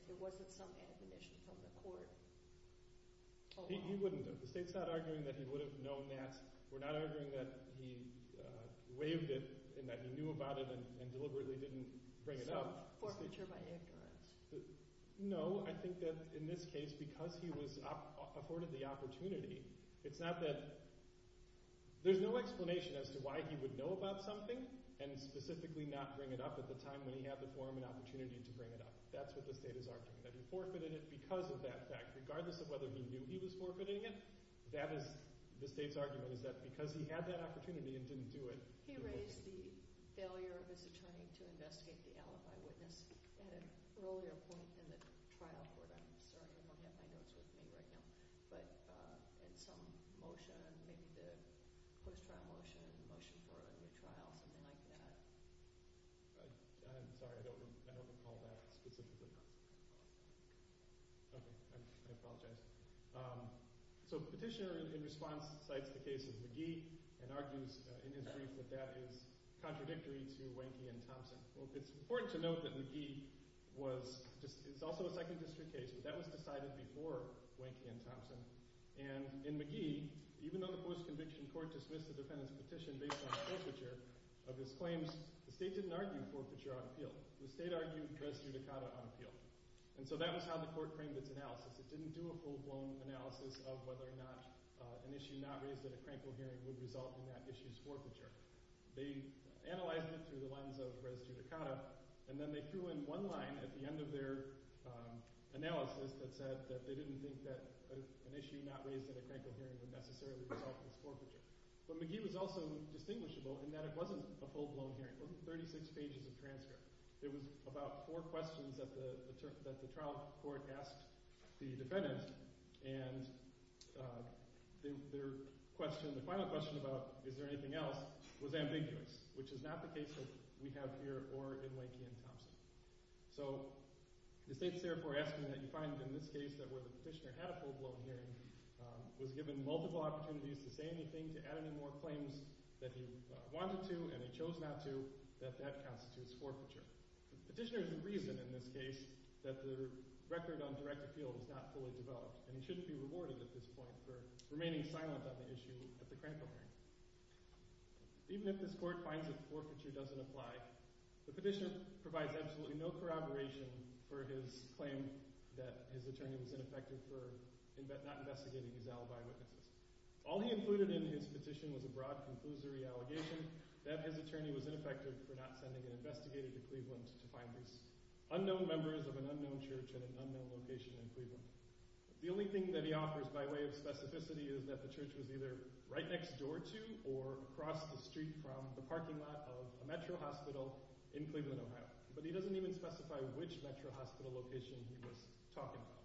there wasn't some amputation from the court? He wouldn't. The state's not arguing that he would have known that. We're not arguing that he waived it and that he knew about it and deliberately didn't bring it up. Forfeiture by ignorance. No, I think that in this case, because he was afforded the opportunity, it's not that – there's no explanation as to why he would know about something and specifically not bring it up at the time when he had the forum and opportunity to bring it up. That's what the state is arguing, that he forfeited it because of that fact. Regardless of whether he knew he was forfeiting it, the state's argument is that because he had that opportunity and didn't do it. He raised the failure of his attorney to investigate the alibi witness in an earlier point in the trial for them. So I don't know how that relates to him right now. But in some motion, maybe the post-trial motion, the motion for a new trial, something like that. I'm sorry. I don't recall that specifically. Okay. I apologize. So Petitioner, in response, cites the case of McGee and argues in his brief that that is contradictory to Wanky and Thompson. It's important to note that McGee was – it's also a Second District case. That was decided before Wanky and Thompson. And in McGee, even though the post-conviction court dismissed the defendant's petition based on forfeiture of his claims, the state didn't argue forfeiture on appeal. The state argued res judicata on appeal. And so that was how the court framed its analysis. It didn't do a full-blown analysis of whether or not an issue not raised at a crankle hearing would result in that issue's forfeiture. They analyzed it through the lens of res judicata, and then they threw in one line at the end of their analysis that said that they didn't think that an issue not raised at a crankle hearing would necessarily result in its forfeiture. But McGee was also distinguishable in that it wasn't a full-blown hearing. It wasn't 36 pages of transcript. It was about four questions that the trial court asked the defendant. And their question, the final question about is there anything else, was ambiguous, which is not the case that we have here or in Wanky and Thompson. So the state's therefore asking that you find in this case that where the petitioner had a full-blown hearing, was given multiple opportunities to say anything, to add any more claims that he wanted to and he chose not to, that that constitutes forfeiture. The petitioner's reason in this case that the record on direct appeal was not fully developed and he shouldn't be rewarded at this point for remaining silent on the issue at the crankle hearing. Even if this court finds that forfeiture doesn't apply, the petitioner provides absolutely no corroboration for his claim that his attorney was ineffective for not investigating his alibi. All he included in his petition was a broad conclusory allegation that his attorney was ineffective for not sending an investigator to Cleveland to find these unknown members of an unknown church at an unknown location in Cleveland. The only thing that he offers by way of specificity is that the church was either right next door to or across the street from the parking lot of a metro hospital in Cleveland, Ohio. But he doesn't even specify which metro hospital location he was talking about.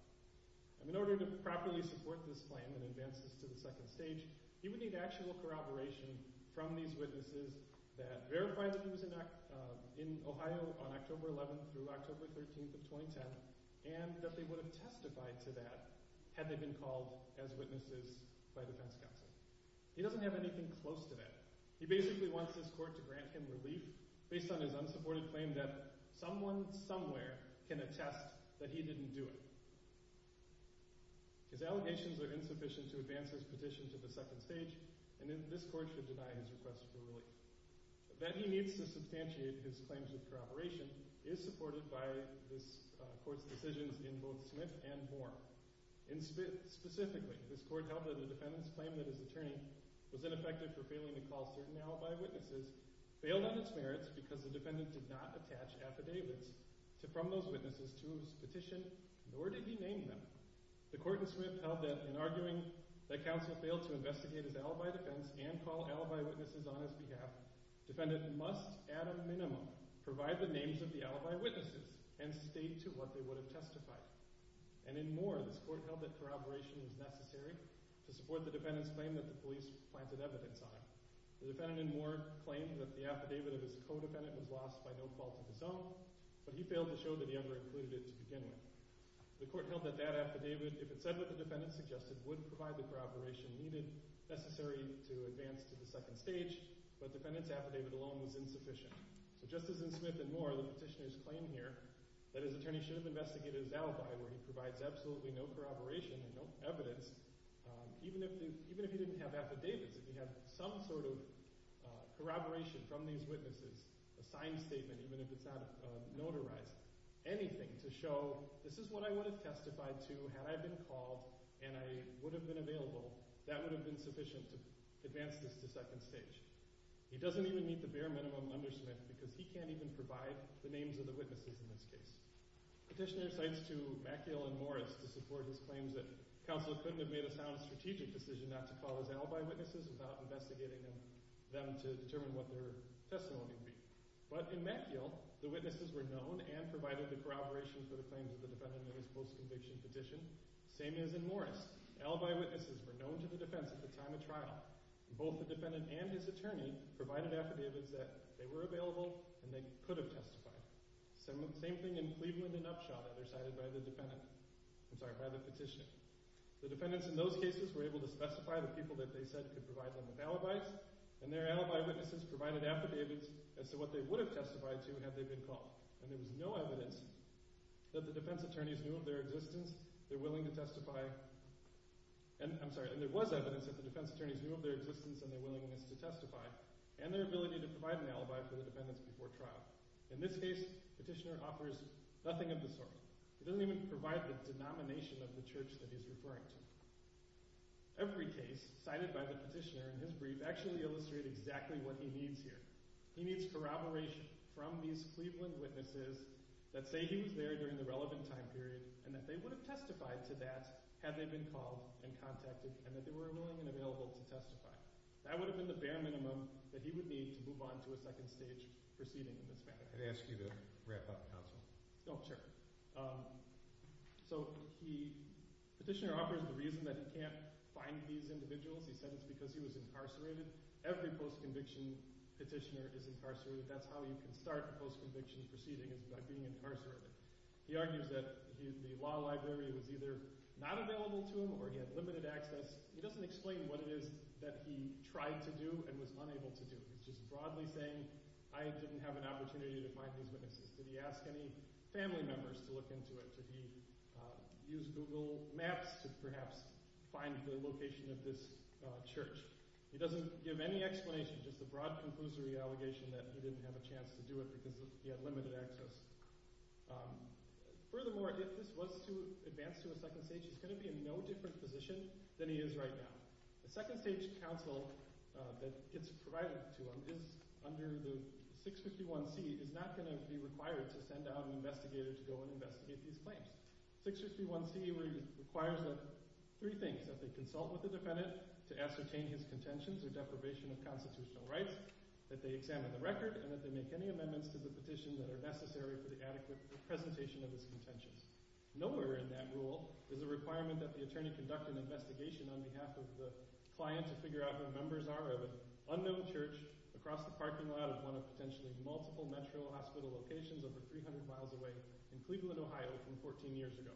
And in order to properly support this claim and advance this to the second stage, he would need actual corroboration from these witnesses that verified that he was in Ohio on October 11th through October 13th of 2010 and that they would have testified to that had they been called as witnesses by defense counsel. He doesn't have anything close to that. He basically wants this court to grant him relief based on his unsupported claim that someone somewhere can attest that he didn't do it. His allegations are insufficient to advance this petition to the second stage and this court should deny his request for relief. That he needs to substantiate his claims of corroboration is supported by this court's decisions in both Smith and Moore. Specifically, this court held that the defendant's claim that his attorney was ineffective for failing to call certain alibi witnesses failed on its merits because the defendant did not attach affidavits from those witnesses to his petition, nor did he name them. The court in Smith held that in arguing that counsel failed to investigate his alibi defense and call alibi witnesses on his behalf, the defendant must at a minimum provide the names of the alibi witnesses and state to what they would have testified. And in Moore, this court held that corroboration was necessary to support the defendant's claim that the police planted evidence on him. The defendant in Moore claimed that the affidavit of his co-defendant was lost by no fault of his own, but he failed to show that he ever included it to begin with. The court held that that affidavit, if it said what the defendant suggested, would provide the corroboration needed necessary to advance to the second stage, but the defendant's affidavit alone was insufficient. But just as in Smith and Moore, the petitioner's claim here that his attorney should have investigated his alibi where he provides absolutely no corroboration and no evidence, even if he didn't have affidavits, if he had some sort of corroboration from these witnesses, a signed statement even if it's not notarized, anything to show this is what I would have testified to had I been called and I would have been available, that would have been sufficient to advance this to second stage. He doesn't even meet the bare minimum under Smith because he can't even provide the names of the witnesses in this case. The petitioner cites to McEil and Morris to support his claims that counsel couldn't have made a sound strategic decision not to call his alibi witnesses without investigating them to determine what their testimony would be. But in McEil, the witnesses were known and provided the corroboration for the claims of the defendant and his post-conviction petition. Same as in Morris. Alibi witnesses were known to the defense at the time of trial. Both the defendant and his attorney provided affidavits that they were available and they could have testified. Same thing in Cleveland and Upshaw that are cited by the petitioner. The defendants in those cases were able to specify the people that they said could provide them with alibis, and their alibi witnesses provided affidavits as to what they would have testified to had they been called. And there was no evidence that the defense attorneys knew of their existence and their willingness to testify, and their ability to provide an alibi for the defendants before trial. In this case, the petitioner offers nothing of the sort. He doesn't even provide the denomination of the church that he's referring to. Every case cited by the petitioner in his brief does actually illustrate exactly what he needs here. He needs corroboration from these Cleveland witnesses that say he was there during the relevant time period and that they would have testified to that had they been called and contacted and that they were willing and available to testify. That would have been the bare minimum that he would need to move on to a second stage proceeding in this matter. I'd ask you to wrap up, Counsel. Oh, sure. So the petitioner offers the reason that he can't find these individuals. He said it's because he was incarcerated. Every post-conviction petitioner is incarcerated. That's how you can start a post-conviction proceeding is by being incarcerated. He argues that the law library was either not available to him or he had limited access. He doesn't explain what it is that he tried to do and was unable to do, which is broadly saying I didn't have an opportunity to find these witnesses. Did he ask any family members to look into it? Did he use Google Maps to perhaps find the location of this church? He doesn't give any explanation. Just a broad conclusory allegation that he didn't have a chance to do it because he had limited access. Furthermore, if this was to advance to a second stage, he's going to be in no different position than he is right now. The second stage counsel that it's provided to him is under the 651C, is not going to be required to send out an investigator to go and investigate these claims. 651C requires three things, that they consult with the defendant to ascertain his contentions or deprivation of constitutional rights, that they examine the record, and that they make any amendments to the petition that are necessary for the adequate presentation of his contentions. Nowhere in that rule is the requirement that the attorney conduct an investigation on behalf of the client to figure out who the members are of an unknown church across the parking lot of one of potentially multiple Metro hospital locations over 300 miles away in Cleveland, Ohio, from 14 years ago.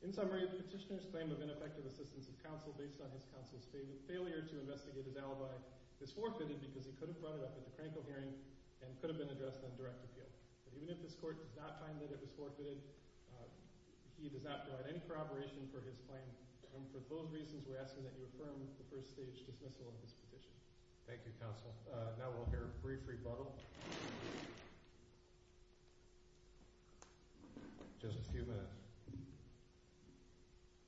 In summary, the petitioner's claim of ineffective assistance of counsel based on his counsel's failure to investigate the alibi is forfeited because he could have led it up to the Krankel hearing and could have been addressed on direct appeal. Even if this court did not find that it was forfeited, he does not provide any corroboration for his claim. And for both reasons, we're asking that you affirm the first stage dismissal of this petition. Thank you, counsel. Now we'll hear a brief rebuttal. Just a few minutes.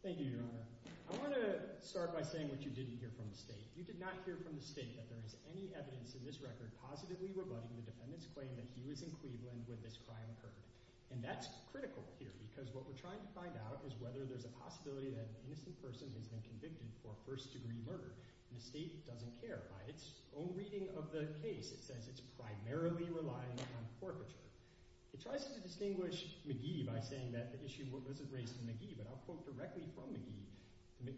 Thank you, Your Honor. I want to start by saying what you didn't hear from the state. You did not hear from the state that there is any evidence in this record positively rebutting the defendant's claim that he was in Cleveland where this crime occurred. And that's critical here because what we're trying to find out is whether there's a possibility that an innocent person has been convicted for first-degree murder. The state doesn't care. By its own reading of the case, it says it's primarily relying on forfeiture. It tries to distinguish McGee by saying that the issue wasn't raised to McGee, but I'll quote directly from McGee.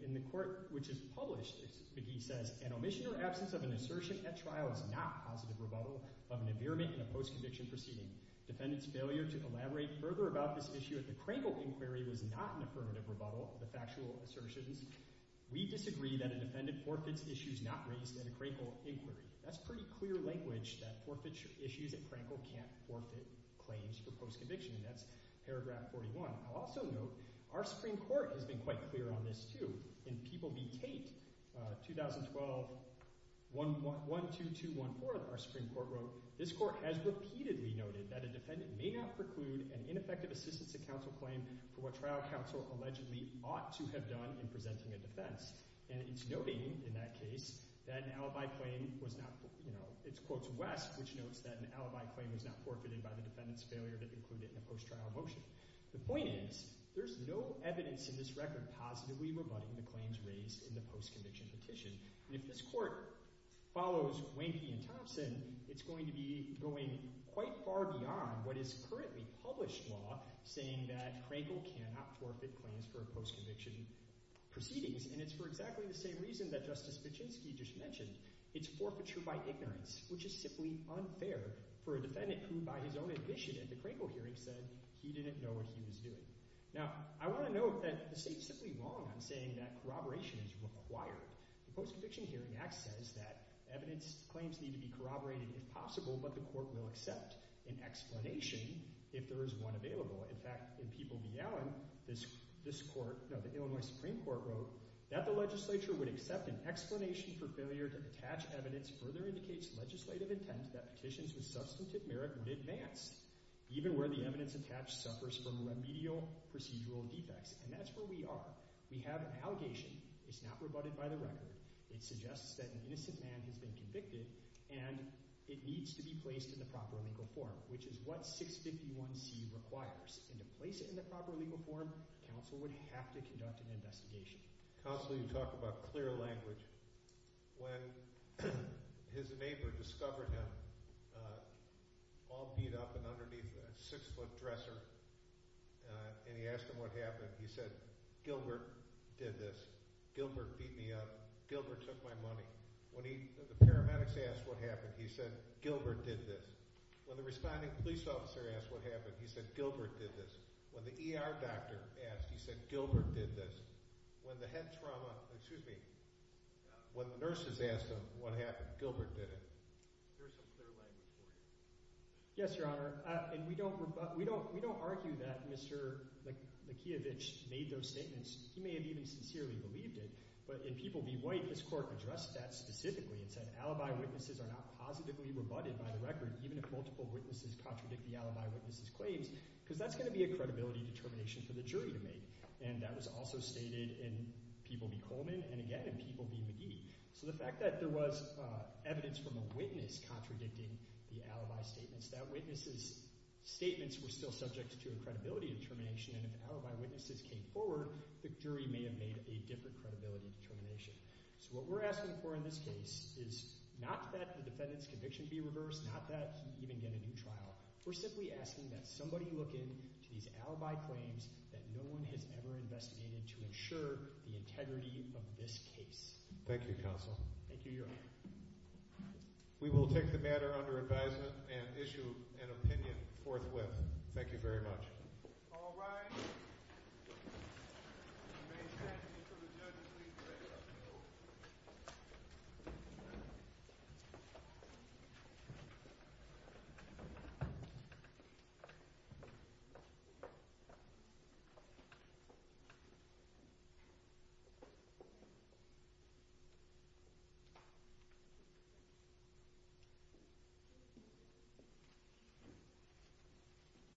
In the court which is published, McGee says, an omission or absence of an assertion at trial is not positive rebuttal of an impairment in a post-conviction proceeding. Defendant's failure to elaborate further about this issue at the Krankel inquiry was not an affirmative rebuttal of the factual assertions. We disagree that a defendant forfeits issues not raised at a Krankel inquiry. That's pretty clear language that forfeiture issues at Krankel can't forfeit claims for post-conviction, and that's paragraph 41. I'll also note our Supreme Court has been quite clear on this too. In People v. Tate, 2012, 12214, our Supreme Court wrote, this court has repeatedly noted that a defendant may not preclude an ineffective assistance to counsel claim for what trial counsel allegedly ought to have done in presenting a defense, and it's noting in that case that an alibi claim was not, you know, it quotes West, which notes that an alibi claim was not forfeited by the defendant's failure to preclude it in a post-trial motion. The point is there's no evidence in this record positively rebutting the claims raised in the post-conviction petition, and if this court follows Wanky and Thompson, it's going to be going quite far beyond what is currently published law saying that Krankel cannot forfeit claims for post-conviction proceedings, and it's for exactly the same reason that Justice Vichinsky just mentioned. It's forfeiture by ignorance, which is simply unfair for a defendant who by his own admission at the Krankel hearing said he didn't know what he was doing. Now, I want to note that this is simply wrong in saying that corroboration is required. The Post-Conviction Hearing Act says that evidence claims need to be corroborated if possible, but the court will accept an explanation if there is one available. In fact, in People v. Allen, the Illinois Supreme Court wrote that the legislature would accept an explanation for failure to attach evidence further indicates legislative intent that petitions with substantive merit would advance, even where the evidence attached suffers from remedial procedural defects. And that's where we are. We have an allegation that's not rebutted by the record. It suggests that an innocent man has been convicted, and it needs to be placed in the proper legal form, which is what 651c requires. And to place it in the proper legal form, counsel would have to conduct an investigation. Counsel, you talk about clear language. When his neighbor discovered him all beat up and underneath a six-foot dresser and he asked him what happened, he said, Gilbert did this. Gilbert beat me up. Gilbert took my money. When the paramedics asked what happened, he said, Gilbert did this. When the responding police officer asked what happened, he said, Gilbert did this. When the ER doctor asked, he said, Gilbert did this. When the head trauma, excuse me, when the nurses asked him what happened, Gilbert did it. There's some clear language there. Yes, Your Honor. And we don't argue that Mr. Mikheyevich made those statements. He may have even sincerely believed it. But in People v. White, this court addressed that specifically and said alibi witnesses are not positively rebutted by the record even if multiple witnesses contradict the alibi witness' claims because that's going to be a credibility determination for the jury to make. And that was also stated in People v. Coleman and, again, in People v. McGee. So the fact that there was evidence from a witness contradicting the alibi statements, that witness' statements were still subject to a credibility determination and if alibi witnesses came forward, the jury may have made a different credibility determination. So what we're asking for in this case is not that the defendant's conviction be reversed, not that you can get a new trial. We're simply asking that somebody look into these alibi claims that no one has ever investigated to ensure the integrity of this case. Thank you, Counsel. Thank you, Your Honor. We will take the matter under advisement and issue an opinion forthwith. Thank you very much. All rise. You may stand until the judges leave the room.